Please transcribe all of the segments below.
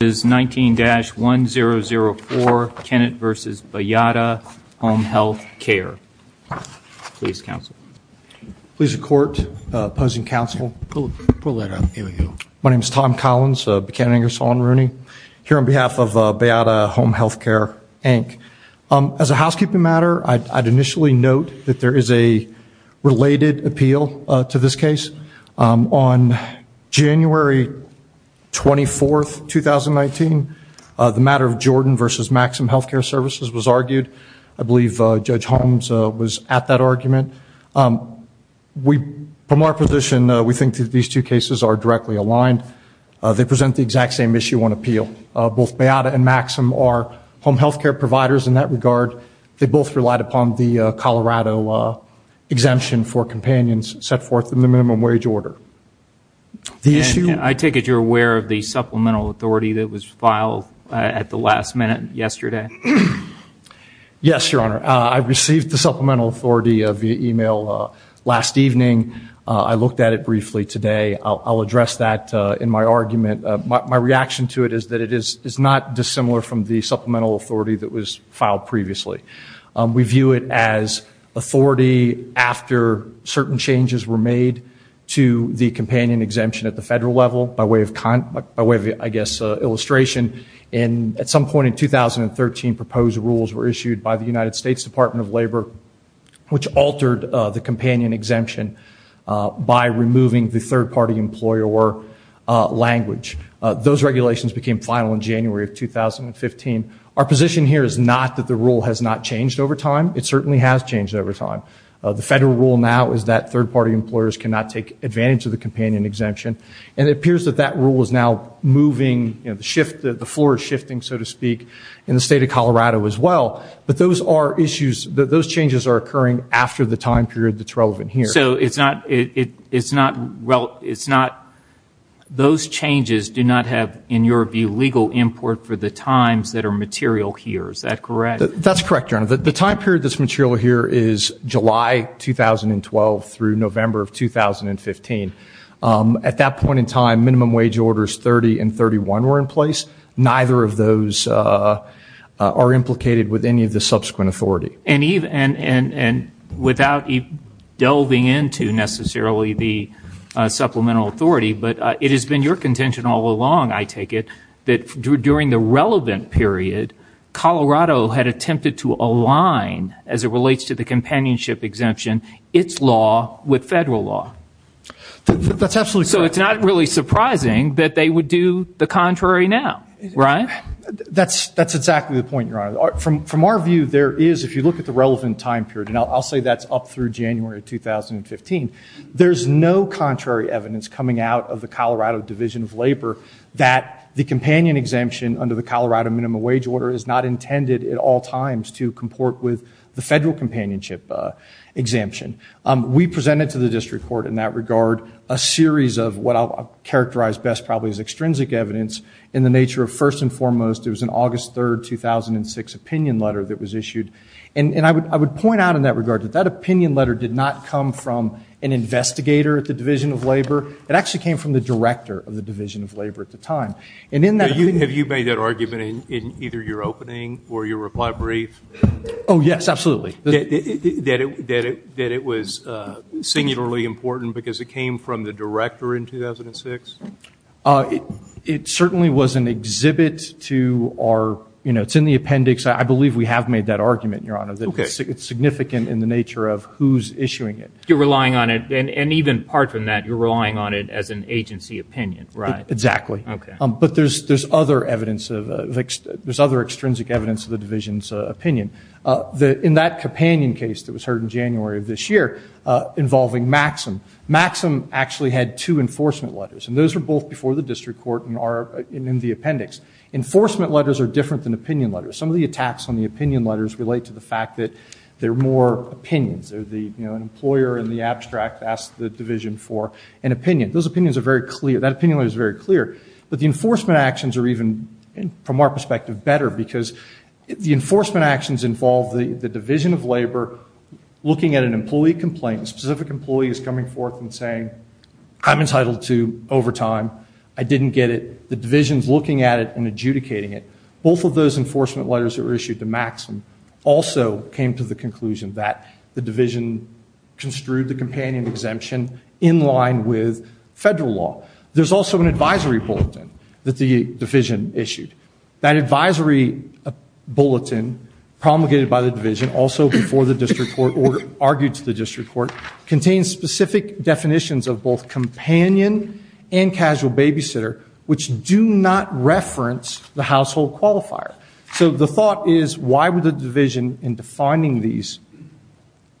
is 19-1004 Kennett v. Bayada Home Health Care. Please counsel. Please record opposing counsel. My name is Tom Collins, Buchanan, Ingersoll & Rooney here on behalf of Bayada Home Health Care Inc. As a housekeeping matter I'd initially note that there is a related appeal to this case. On January 24th, 2019, the matter of Jordan v. Maxim Healthcare Services was argued. I believe Judge Holmes was at that argument. We, from our position, we think that these two cases are directly aligned. They present the exact same issue on appeal. Both Bayada and Maxim are home health care providers in that regard. They both relied upon the Colorado exemption for companions set forth in the minimum wage order. I take it you're aware of the supplemental authority that was filed at the last minute yesterday? Yes, Your Honor. I received the supplemental authority via email last evening. I looked at it briefly today. I'll address that in my argument. My reaction to it is that it is not dissimilar from the supplemental authority that was filed previously. We view it as authority after certain changes were made to the companion exemption at the federal level by way of kind of, I guess, illustration. And at some point in 2013, proposed rules were issued by the United States Department of Labor which altered the companion exemption by removing the third-party employer language. Those position here is not that the rule has not changed over time. It certainly has changed over time. The federal rule now is that third-party employers cannot take advantage of the companion exemption. And it appears that that rule is now moving, the floor is shifting, so to speak, in the state of Colorado as well. But those are issues, those changes are occurring after the time period that's relevant here. So it's not, it's not, well, it's not, those changes do not have, in your view, legal import for the times that are material here. Is that correct? That's correct, Your Honor. The time period that's material here is July 2012 through November of 2015. At that point in time, minimum wage orders 30 and 31 were in place. Neither of those are implicated with any of the subsequent authority. And without delving into necessarily the contention all along, I take it, that during the relevant period, Colorado had attempted to align, as it relates to the companionship exemption, its law with federal law. That's absolutely correct. So it's not really surprising that they would do the contrary now, right? That's exactly the point, Your Honor. From our view, there is, if you look at the relevant time period, and I'll say that's up through January 2015, there's no contrary evidence coming out of the Colorado Division of Labor that the companion exemption under the Colorado minimum wage order is not intended at all times to comport with the federal companionship exemption. We presented to the district court in that regard a series of what I'll characterize best probably as extrinsic evidence in the nature of, first and foremost, it was an August 3rd, 2006 opinion letter that was issued. And I would point out in that regard that that opinion letter did not come from an appendix. It came from the director of the Division of Labor at the time. And in that opinion letter... Have you made that argument in either your opening or your reply brief? Oh yes, absolutely. That it was singularly important because it came from the director in 2006? It certainly was an exhibit to our, you know, it's in the appendix. I believe we have made that argument, Your Honor, that it's significant in the nature of who's issuing it. You're relying on it, and even apart from that, you're relying on it as an agency opinion, right? Exactly. Okay. But there's other evidence of, there's other extrinsic evidence of the division's opinion. In that companion case that was heard in January of this year involving Maxim, Maxim actually had two enforcement letters, and those were both before the district court and are in the appendix. Enforcement letters are different than opinion letters. Some of the attacks on the opinion letters relate to the fact that they're more opinions. They're the, you know, an employer in the division for an opinion. Those opinions are very clear. That opinion letter is very clear. But the enforcement actions are even, from our perspective, better because the enforcement actions involve the division of labor looking at an employee complaint. A specific employee is coming forth and saying, I'm entitled to overtime. I didn't get it. The division's looking at it and adjudicating it. Both of those enforcement letters that were issued to Maxim also came to the conclusion that the division construed the companion exemption in line with federal law. There's also an advisory bulletin that the division issued. That advisory bulletin promulgated by the division, also before the district court or argued to the district court, contains specific definitions of both companion and casual babysitter, which do not reference the household qualifier. So the thought is, why would the division in defining these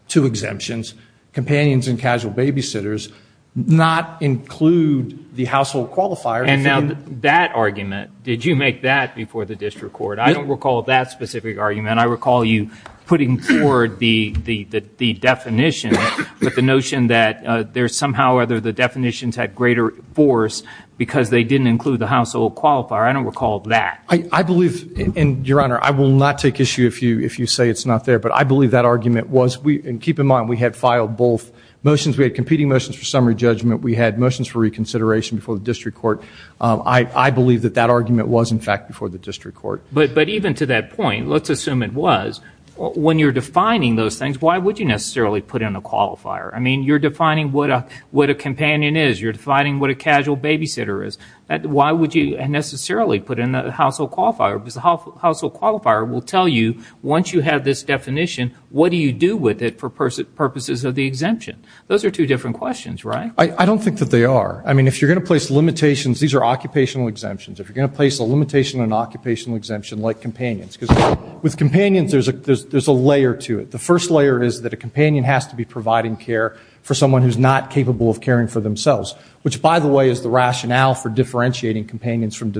two exemptions, companions and casual babysitters, not include the household qualifier? And now that argument, did you make that before the district court? I don't recall that specific argument. I recall you putting forward the definition, but the notion that there's somehow whether the definitions had greater force because they didn't include the household qualifier. I don't recall that. I believe, and Your Honor, I will not take issue if you say it's not there, but I believe that argument was, and keep in mind, we had filed both motions. We had competing motions for summary judgment. We had motions for reconsideration before the district court. I believe that that argument was, in fact, before the district court. But even to that point, let's assume it was, when you're defining those things, why would you necessarily put in a qualifier? I mean, you're defining what a companion is. You're defining what a casual babysitter is. Why would you necessarily put in a household qualifier? Because the household qualifier will tell you, once you have this definition, what do you do with it for purposes of the exemption? Those are two different questions, right? I don't think that they are. I mean, if you're going to place limitations, these are occupational exemptions. If you're going to place a limitation on an occupational exemption like companions, because with companions, there's a layer to it. The first layer is that a companion has to be providing care for someone who's not capable of caring for themselves, which, by the way, is the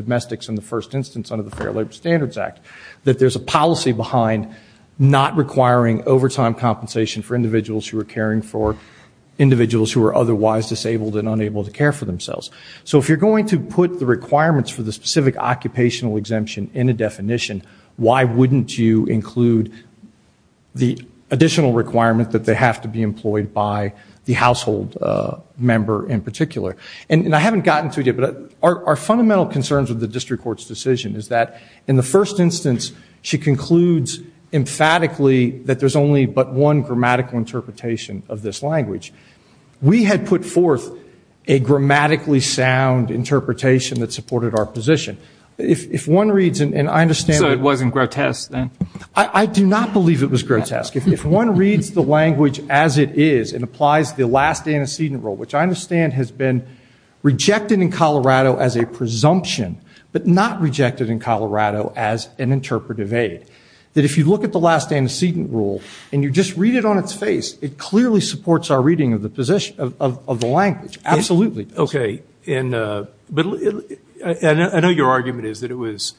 domestics in the first instance under the Fair Labor Standards Act, that there's a policy behind not requiring overtime compensation for individuals who are caring for individuals who are otherwise disabled and unable to care for themselves. So if you're going to put the requirements for the specific occupational exemption in a definition, why wouldn't you include the additional requirement that they have to be employed by the household member in the district court's decision? Is that, in the first instance, she concludes emphatically that there's only but one grammatical interpretation of this language. We had put forth a grammatically sound interpretation that supported our position. If one reads, and I understand... So it wasn't grotesque then? I do not believe it was grotesque. If one reads the language as it is and applies the last antecedent rule, which I understand has been rejected in Colorado as a presumption, but not rejected in Colorado as an interpretive aid, that if you look at the last antecedent rule and you just read it on its face, it clearly supports our reading of the position of the language. Absolutely. Okay, and I know your argument is that it was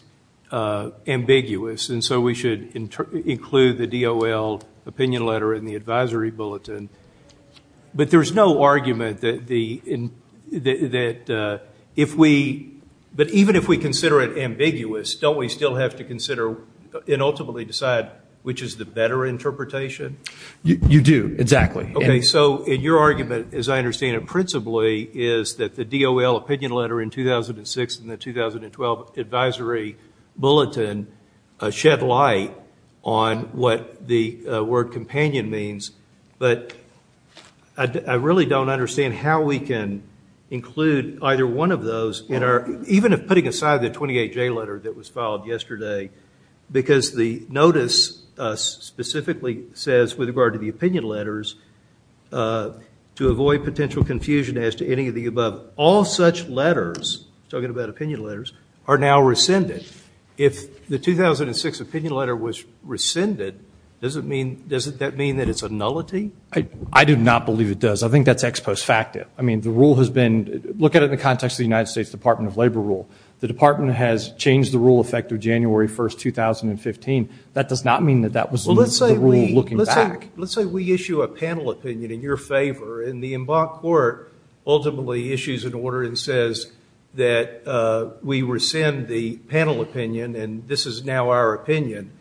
ambiguous, and so we should include the DOL opinion letter in the advisory bulletin, but there's no argument that if we... But even if we consider it ambiguous, don't we still have to consider and ultimately decide which is the better interpretation? You do, exactly. Okay, so your argument, as I understand it principally, is that the DOL opinion letter in 2006 and the 2012 advisory bulletin shed light on what the word companion means, but I really don't understand how we can include either one of those in our... Even if putting aside the 28J letter that was filed yesterday, because the notice specifically says, with regard to the opinion letters, to avoid potential confusion as to any of the above, all such letters, talking about opinion letters, are now rescinded. If the 2006 opinion letter was rescinded, does that mean that it's a nullity? I do not believe it does. I think that's ex post facto. I mean, the rule has been... Look at it in the context of the United States Department of Labor rule. The department has changed the rule effective January 1st, 2015. That does not mean that that was the rule looking back. Let's say we issue a panel opinion in your favor, and the Embark Court ultimately issues an order and says that we rescind the panel opinion, and this is now our opinion.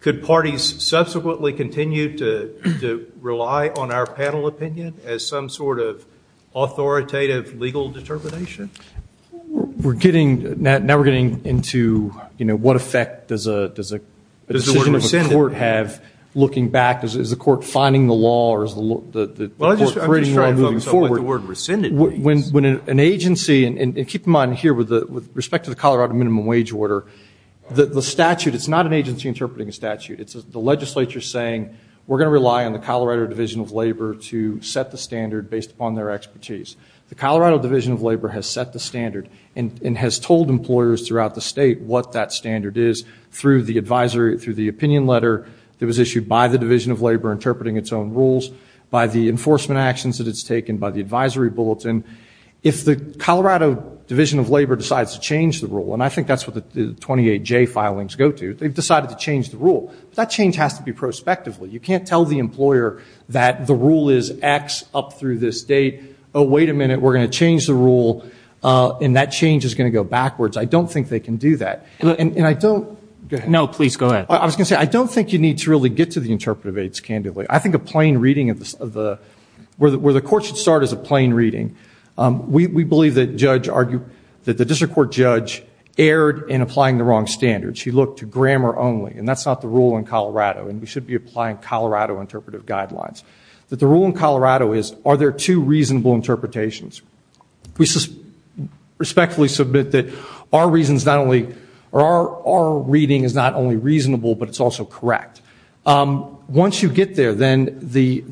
Could parties subsequently continue to rely on our panel opinion as some sort of authoritative legal determination? We're getting... Now we're getting into, you know, what effect does a decision of a court have looking back? Is the court finding the law, or is the court creating the law moving forward? Well, I'm just trying to focus on what the word rescinded means. When an agency, and keep in mind here, with respect to the Colorado minimum wage order, the statute, it's not an agency interpreting a statute. It's the legislature saying, we're going to rely on the Colorado Division of Labor to set the standard based upon their expertise. The Colorado Division of Labor has set the standard and has told employers throughout the state what that standard is through the advisory, through the opinion letter that was issued by the Division of Labor interpreting its own rules, by the enforcement actions that it's taken, by the advisory bulletin. If the Colorado Division of Labor decides to change the rule, and I think that's what the 28J filings go to, they've decided to change the rule. That change has to be prospectively. You can't tell the employer that the rule is X up through this date. Oh, wait a minute, we're going to change the rule, and that change is going to go backwards. I don't think they can do that. And I don't... No, please go ahead. I was gonna say, I don't think you need to really get to the interpretive aids candidly. I think a plain reading of the... where the court should start is a plain reading. We have a court judge erred in applying the wrong standards. She looked to grammar only, and that's not the rule in Colorado, and we should be applying Colorado interpretive guidelines. That the rule in Colorado is, are there two reasonable interpretations? We respectfully submit that our reasons not only... or our reading is not only reasonable, but it's also correct. Once you get there, then the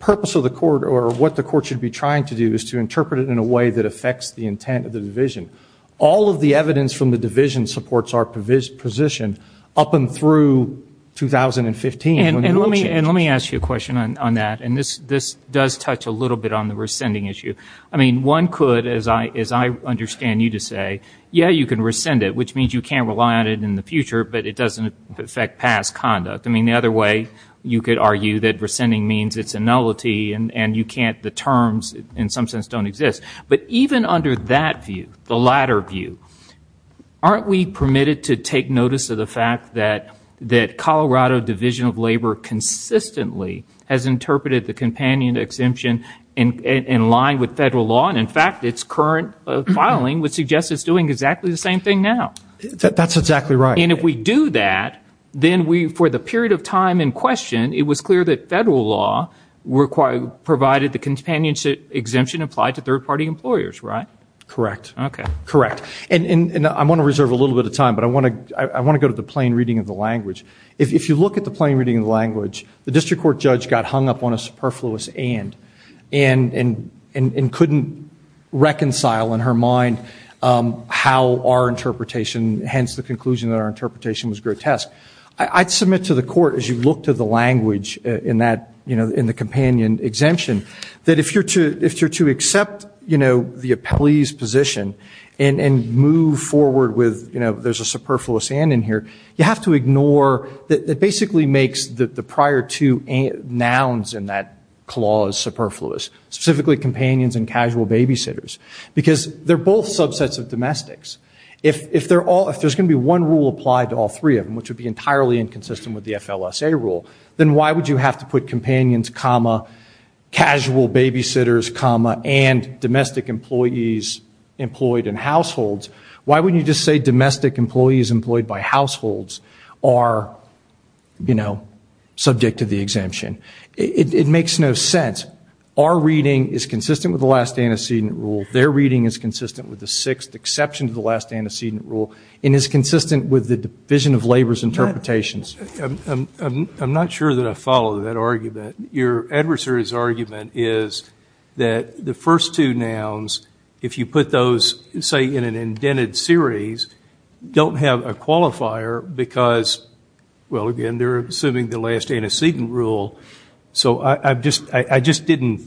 purpose of the court, or what the court should be trying to do, is to interpret it in a way that affects the intent of the division. All of the evidence from the division supports our position up and through 2015. And let me ask you a question on that, and this does touch a little bit on the rescinding issue. I mean, one could, as I understand you to say, yeah, you can rescind it, which means you can't rely on it in the future, but it doesn't affect past conduct. I mean, the other way you could argue that rescinding means it's a nullity, and you can't... the terms in some sense don't exist. But even under that view, the latter view, aren't we permitted to take notice of the fact that Colorado Division of Labor consistently has interpreted the companion exemption in line with federal law, and in fact its current filing would suggest it's doing exactly the same thing now. That's exactly right. And if we do that, then we, for the period of time in question, it was clear that federal law provided the companionship exemption applied to third-party employers, right? Correct. Okay. Correct. And I want to reserve a little bit of time, but I want to go to the plain reading of the language. If you look at the plain reading of the language, the district court judge got hung up on a superfluous and, and couldn't reconcile in her mind how our interpretation, hence the conclusion that our interpretation, was grotesque. I'd submit to the court, as you look to the language in that, you know, in the companion exemption, that if you're to accept, you know, the appellee's position and, and move forward with, you know, there's a superfluous and in here, you have to ignore, that basically makes the prior two nouns in that clause superfluous, specifically companions and casual babysitters, because they're both subsets of domestics. If, if they're all, if there's going to be one rule applied to all three of them, which would be entirely inconsistent with the FLSA rule, then why would you have to put and domestic employees employed in households, why wouldn't you just say domestic employees employed by households are, you know, subject to the exemption? It, it makes no sense. Our reading is consistent with the last antecedent rule. Their reading is consistent with the sixth exception to the last antecedent rule, and is consistent with the Division of Labor's interpretations. I'm not sure that I follow that argument. Your adversary's argument is that the first two nouns, if you put those, say, in an indented series, don't have a qualifier because, well, again, they're assuming the last antecedent rule. So I just, I just didn't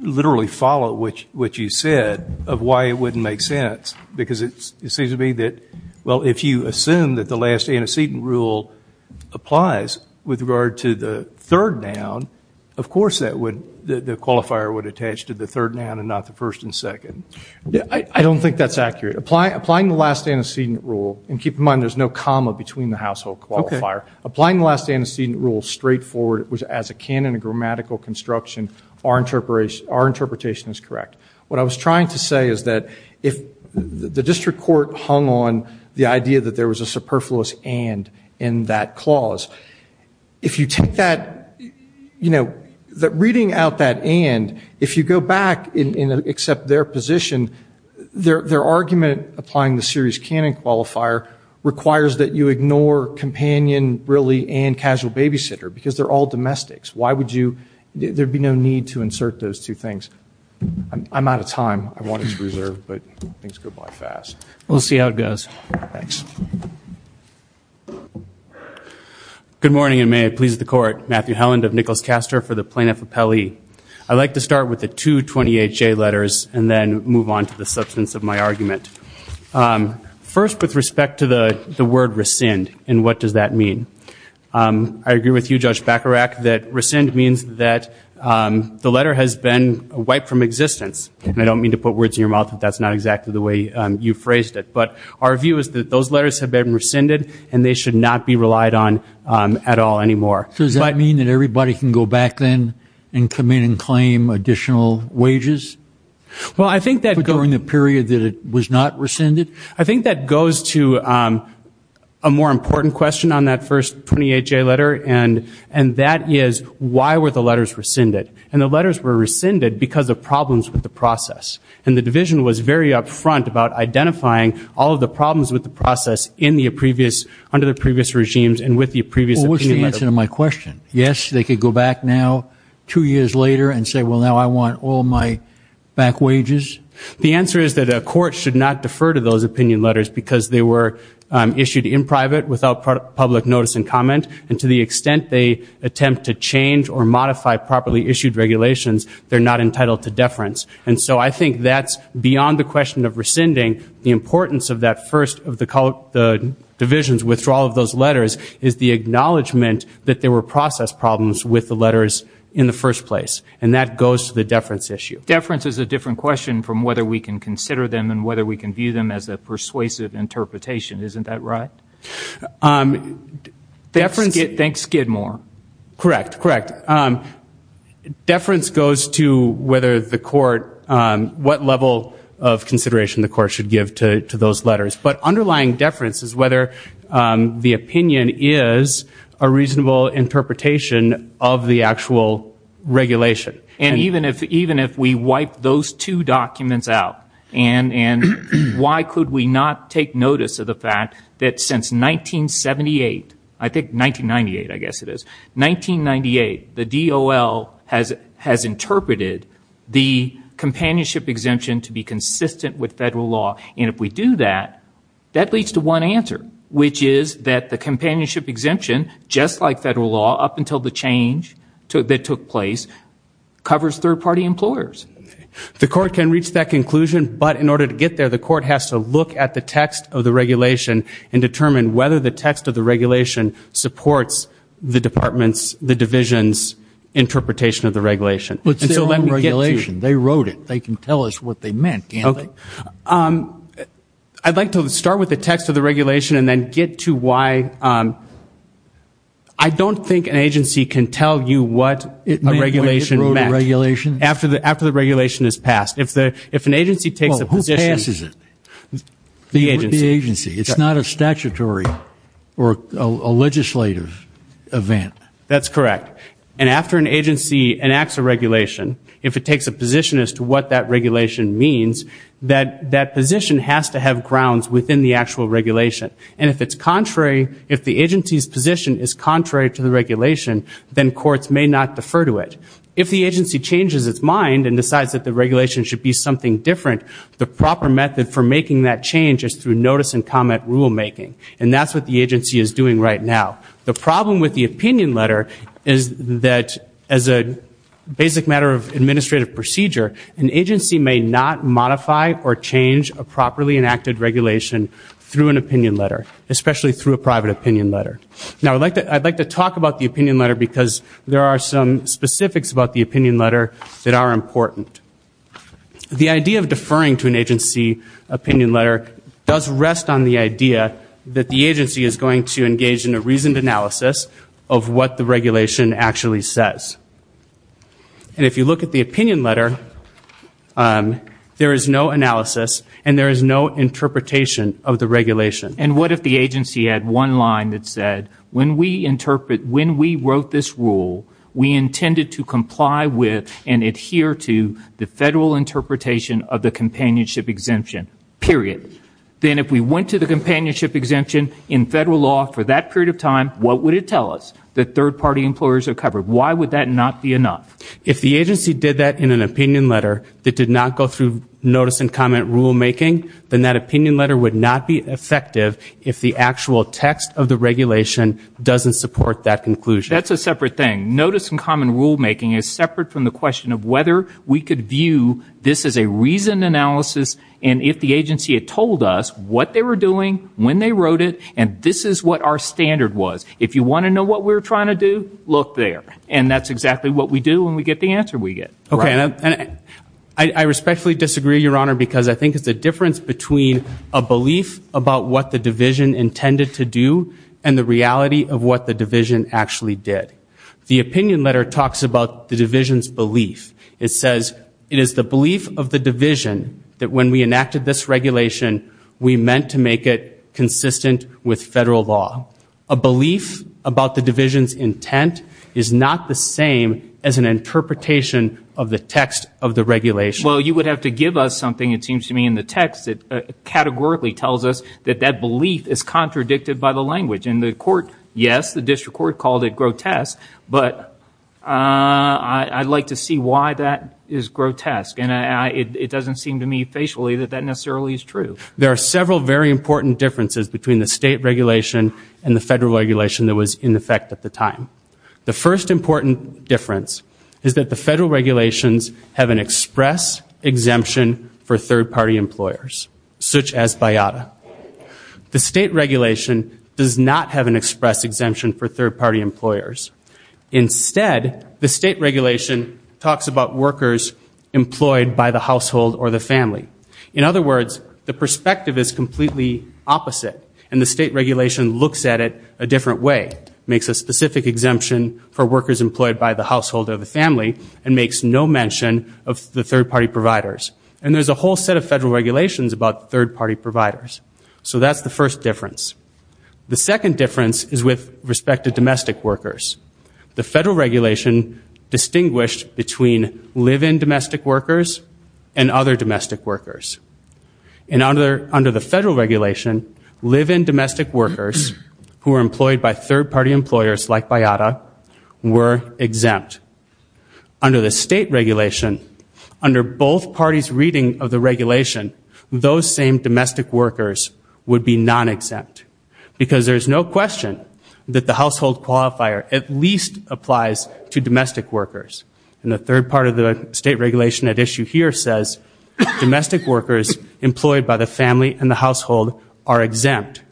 literally follow which, what you said of why it wouldn't make sense, because it seems to me that, well, if you assume that the last antecedent rule applies with regard to the third noun, of course that would, the third noun and not the first and second. I don't think that's accurate. Apply, applying the last antecedent rule, and keep in mind there's no comma between the household qualifier. Okay. Applying the last antecedent rule, straightforward, as a canon of grammatical construction, our interpretation, our interpretation is correct. What I was trying to say is that if the district court hung on the idea that there was a superfluous and in that clause, if you take that, you know, that reading out that and, if you go back and accept their position, their argument applying the series canon qualifier requires that you ignore companion, really, and casual babysitter, because they're all domestics. Why would you, there'd be no need to insert those two things. I'm out of time. I wanted to reserve, but things go by fast. We'll see how it goes. Thanks. Good morning, and may it please the court. Matthew Helland of Nichols-Castor for the Plaintiff Appellee. I'd like to start with the two 20HA letters and then move on to the substance of my argument. First, with respect to the the word rescind, and what does that mean? I agree with you, Judge Bacharach, that rescind means that the letter has been wiped from existence. I don't mean to put words in your mouth that that's not exactly the way you phrased it, but our view is that those weren't really relied on at all anymore. So does that mean that everybody can go back then and come in and claim additional wages? Well, I think that during the period that it was not rescinded? I think that goes to a more important question on that first 20HA letter, and that is, why were the letters rescinded? And the letters were rescinded because of problems with the process, and the division was very upfront about identifying all of the problems with the process in the previous, under the previous regimes, and with the previous opinion letter. Well, what's the answer to my question? Yes, they could go back now, two years later, and say, well now I want all my back wages? The answer is that a court should not defer to those opinion letters because they were issued in private without public notice and comment, and to the extent they attempt to change or modify properly issued regulations, they're not entitled to deference. And so I think that's beyond the question of rescinding, the importance of that first of the divisions, withdrawal of those letters, is the acknowledgement that there were process problems with the letters in the first place, and that goes to the deference issue. Deference is a different question from whether we can consider them and whether we can view them as a persuasive interpretation, isn't that right? Deference... Thanks Skidmore. Correct, correct. Deference goes to whether the consideration the court should give to those letters, but underlying deference is whether the opinion is a reasonable interpretation of the actual regulation. And even if, even if we wipe those two documents out, and, and why could we not take notice of the fact that since 1978, I think 1998, I guess it is, 1998, the DOL has, has interpreted the companionship exemption to be consistent with federal law, and if we do that, that leads to one answer, which is that the companionship exemption, just like federal law up until the change that took place, covers third-party employers. The court can reach that conclusion, but in order to get there, the court has to look at the text of the regulation and determine whether the text of the regulation supports the department's, the division's interpretation of the regulation. But it's their own regulation, they wrote it, they can tell us what they meant, can't they? Um, I'd like to start with the text of the regulation and then get to why, um, I don't think an agency can tell you what a regulation meant. After the, after the regulation is passed. If the, if an agency takes a position... Well, who passes it? The agency. It's not a statutory or a legislative event. That's correct. And after an agency enacts a regulation, if it takes a position as to what that regulation means, that, that position has to have grounds within the actual regulation. And if it's contrary, if the agency's position is contrary to the regulation, then courts may not defer to it. If the agency changes its mind and decides that the regulation should be something different, the proper method for making that change is through notice and comment rulemaking, and that's what the agency is doing right now. The problem with the opinion letter is that as a basic matter of administrative procedure, an agency may not modify or change a properly enacted regulation through an opinion letter, especially through a private opinion letter. Now I'd like to, I'd like to talk about the opinion letter because there are some specifics about the opinion letter that are important. The idea of deferring to an agency opinion letter does rest on the idea that the agency is going to interpret of what the regulation actually says. And if you look at the opinion letter, there is no analysis and there is no interpretation of the regulation. And what if the agency had one line that said, when we interpret, when we wrote this rule, we intended to comply with and adhere to the federal interpretation of the companionship exemption, period. Then if we went to the companionship exemption in federal law for that period of time, what would it tell us? That third-party employers are covered. Why would that not be enough? If the agency did that in an opinion letter that did not go through notice and comment rulemaking, then that opinion letter would not be effective if the actual text of the regulation doesn't support that conclusion. That's a separate thing. Notice and comment rulemaking is separate from the question of whether we could view this as a reasoned analysis and if the agency had told us what they were doing, when they wrote it, and this is what our what we're trying to do, look there. And that's exactly what we do when we get the answer we get. Okay, I respectfully disagree, Your Honor, because I think it's a difference between a belief about what the division intended to do and the reality of what the division actually did. The opinion letter talks about the division's belief. It says, it is the belief of the division that when we enacted this regulation, we meant to make it consistent with federal law. A belief about the division's intent is not the same as an interpretation of the text of the regulation. Well, you would have to give us something, it seems to me, in the text that categorically tells us that that belief is contradicted by the language. And the court, yes, the district court called it grotesque, but I'd like to see why that is grotesque. And it doesn't seem to me facially that that necessarily is true. There are several very important differences between the federal regulation that was in effect at the time. The first important difference is that the federal regulations have an express exemption for third-party employers, such as BIATA. The state regulation does not have an express exemption for third-party employers. Instead, the state regulation talks about workers employed by the household or the family. In other words, the perspective is completely opposite, and the state regulation looks at it a different way, makes a specific exemption for workers employed by the household or the family, and makes no mention of the third-party providers. And there's a whole set of federal regulations about third-party providers. So that's the first difference. The second difference is with respect to domestic workers. The federal regulation distinguished between live-in domestic workers and other domestic workers. And under the federal regulation, live-in domestic workers, who are employed by third-party employers like BIATA, were exempt. Under the state regulation, under both parties' reading of the regulation, those same domestic workers would be non-exempt. Because there's no question that the household qualifier at least applies to domestic workers. And the third part of the state regulation at issue here says domestic workers employed by the family and the household are exempt.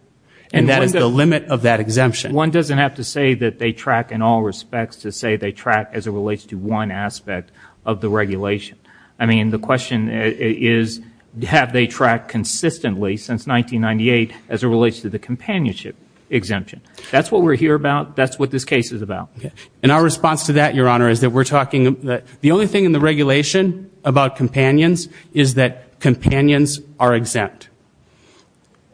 And that is the limit of that exemption. One doesn't have to say that they track in all respects to say they track as it relates to one aspect of the regulation. I mean, the question is, have they tracked consistently since 1998 as it relates to the companionship exemption? That's what we're here about. That's what this case is about. And our response to that, Your Honor, is that we're talking that the only thing in the regulation about companions is that companions are exempt.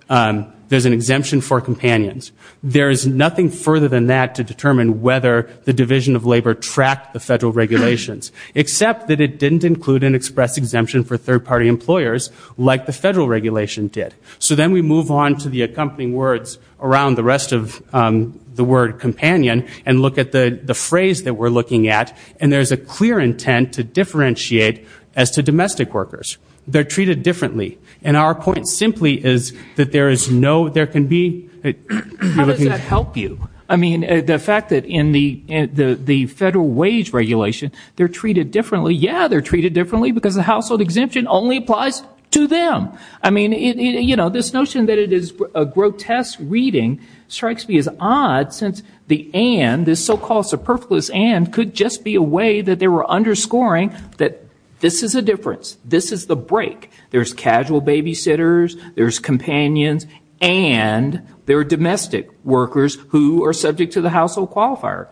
There's an exemption for companions. There is nothing further than that to determine whether the Division of Labor tracked the federal regulations. Except that it didn't include an express exemption for third-party employers like the federal regulation did. So then we move on to the accompanying words around the rest of the word companion and look at the phrase that we're looking at. And there's a clear intent to differentiate as to domestic workers. They're treated differently. And our point simply is that there is no, there can be, we're looking at How does that help you? I mean, the fact that in the federal wage regulation, they're treated differently. Yeah, they're treated differently because the household exemption only applies to them. I mean, you know, this notion that it is a grotesque reading strikes me as odd since the and, this so-called superfluous and, could just be a way that they were underscoring that this is a difference. This is the break. There's casual babysitters, there's companions, and there are domestic workers who are subject to the household qualifier.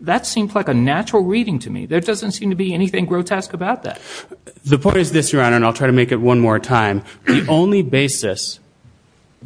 That seems like a natural reading to me. There doesn't seem to be anything grotesque about that. The point is this, Your Honor, and I'll try to make it one more time. The only basis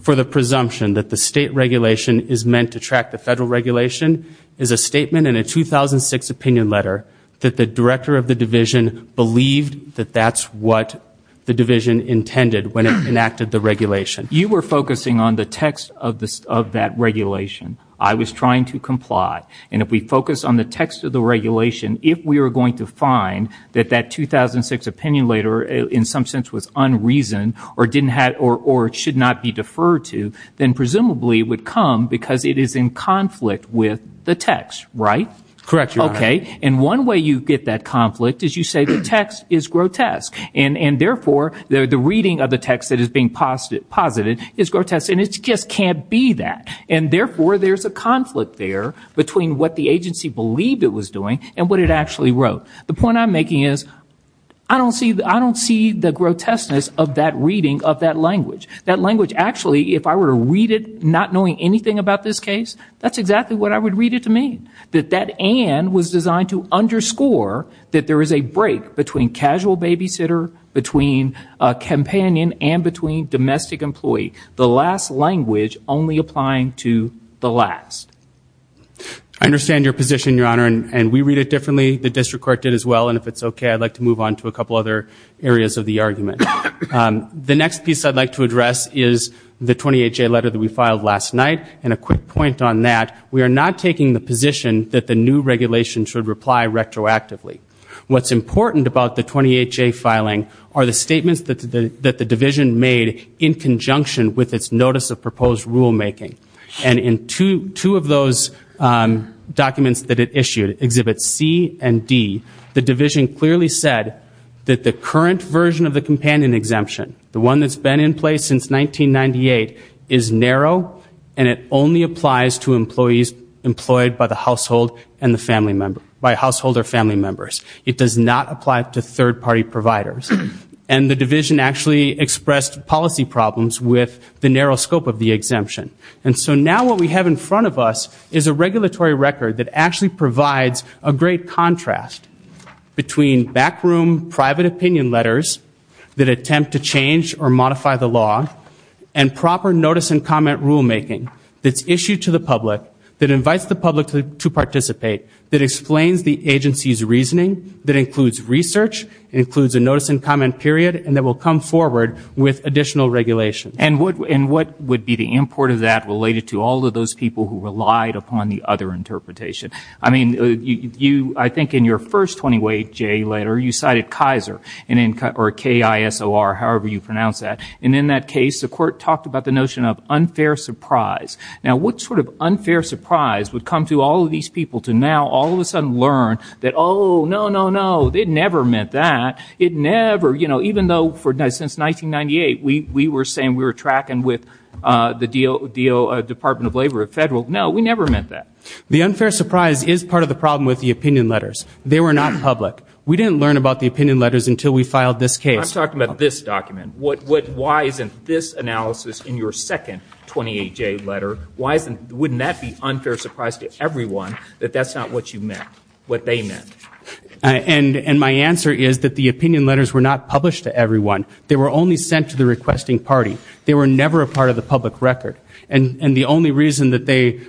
for the presumption that the state regulation is meant to track the federal regulation is a statement in a 2006 opinion letter that the director of the division believed that that's what the division intended when it enacted the regulation. You were focusing on the text of this, of that regulation. I was trying to comply. And if we focus on the text of the regulation, if we are going to find that that 2006 opinion letter in some sense was unreasoned, or didn't have, or should not be deferred to, then presumably would come because it is in conflict with the text, right? Correct, Your Honor. Okay. And one way you get that conflict is you say the text is grotesque. And therefore, the reading of the text that is being posited is grotesque. And it just can't be that. And therefore, there's a conflict there between what the agency believed it was doing and what it actually wrote. The point I'm making is I don't see the grotesqueness of that reading of that language. That language actually, if I were to read it not knowing anything about this case, that's exactly what I would read it to mean. That that and was designed to underscore that there is a break between casual babysitter, between companion, and between domestic employee. The last language only applying to the last. I understand your position, Your Honor. And we read it differently. The district court did as well. And if it's okay, I'd like to move on to a couple other areas of the argument. The next piece I'd like to address is the 28-J letter that we filed last night. And a quick point on that. We are not taking the position that the new regulation should reply retroactively. What's important about the 28-J filing are the statements that the division made in conjunction with its notice of proposed rulemaking. And in two of those documents that it issued, Exhibits C and D, the division clearly said that the current version of the companion exemption, the one that's been in place since 1998, is narrow and it only applies to employees employed by the household and the family member, by household or family members. It does not apply to third-party providers. And the division actually expressed policy problems with the narrow scope of the exemption. And so now what we have in front of us is a regulatory record that actually provides a great contrast between backroom private opinion letters that attempt to change or modify the law and proper notice and comment rulemaking that's issued to the public, that invites the public to participate, that explains the agency's reasoning, that includes research, includes a notice and comment period, and that will come forward with additional regulations. And what would be the import of that related to all of those people who I mean, you, I think in your first 20-way J letter, you cited Kaiser or K-I-S-O-R, however you pronounce that. And in that case, the court talked about the notion of unfair surprise. Now, what sort of unfair surprise would come to all of these people to now all of a sudden learn that, oh, no, no, no, it never meant that. It never, you know, even though for since 1998, we were saying we were tracking with the Department of Labor at Federal. No, we never meant that. The unfair surprise is part of the problem with the opinion letters. They were not public. We didn't learn about the opinion letters until we filed this case. I'm talking about this document. What, what, why isn't this analysis in your second 20-way J letter, why isn't, wouldn't that be unfair surprise to everyone that that's not what you meant, what they meant? And, and my answer is that the opinion letters were not published to everyone. They were only sent to the requesting party. They were never a part of the public record. And, and the only reason that they,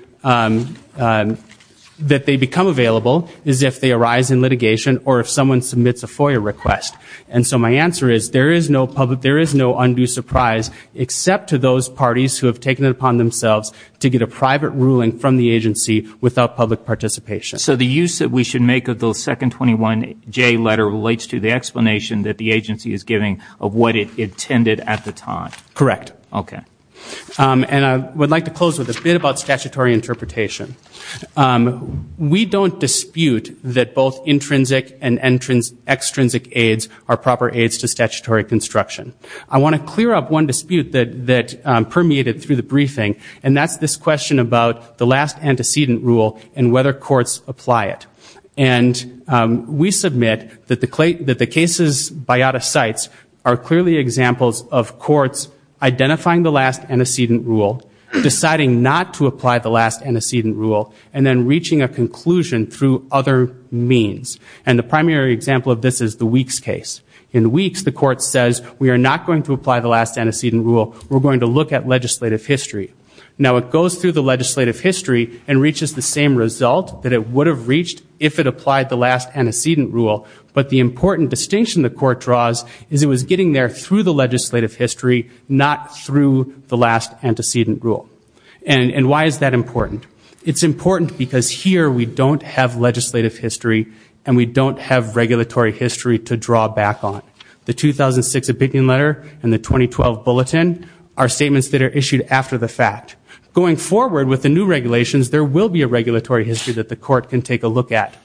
that they become available is if they arise in litigation or if someone submits a FOIA request. And so my answer is there is no public, there is no undue surprise except to those parties who have taken it upon themselves to get a private ruling from the agency without public participation. So the use that we should make of those second 21-J letter relates to the explanation that the agency is giving of what it intended at the time. Correct. Okay. And I would like to close with a bit about statutory interpretation. We don't dispute that both intrinsic and extrinsic aides are proper aides to statutory construction. I want to clear up one dispute that, that permeated through the briefing and that's this question about the last antecedent rule and whether courts apply it. And we submit that the case's identifying the last antecedent rule, deciding not to apply the last antecedent rule, and then reaching a conclusion through other means. And the primary example of this is the Weeks case. In Weeks, the court says we are not going to apply the last antecedent rule. We're going to look at legislative history. Now it goes through the legislative history and reaches the same result that it would have reached if it applied the last antecedent rule. But the important distinction the court draws is it was getting there through the legislative history, not through the last antecedent rule. And, and why is that important? It's important because here we don't have legislative history and we don't have regulatory history to draw back on. The 2006 opinion letter and the 2012 bulletin are statements that are issued after the fact. Going forward with the new regulations, there will be a regulatory history that the court can take a look at.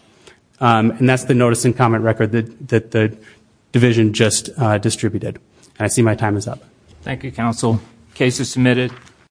And that's the notice and comment record that the division just distributed. And I see my time is up. Thank you, counsel. Case is submitted.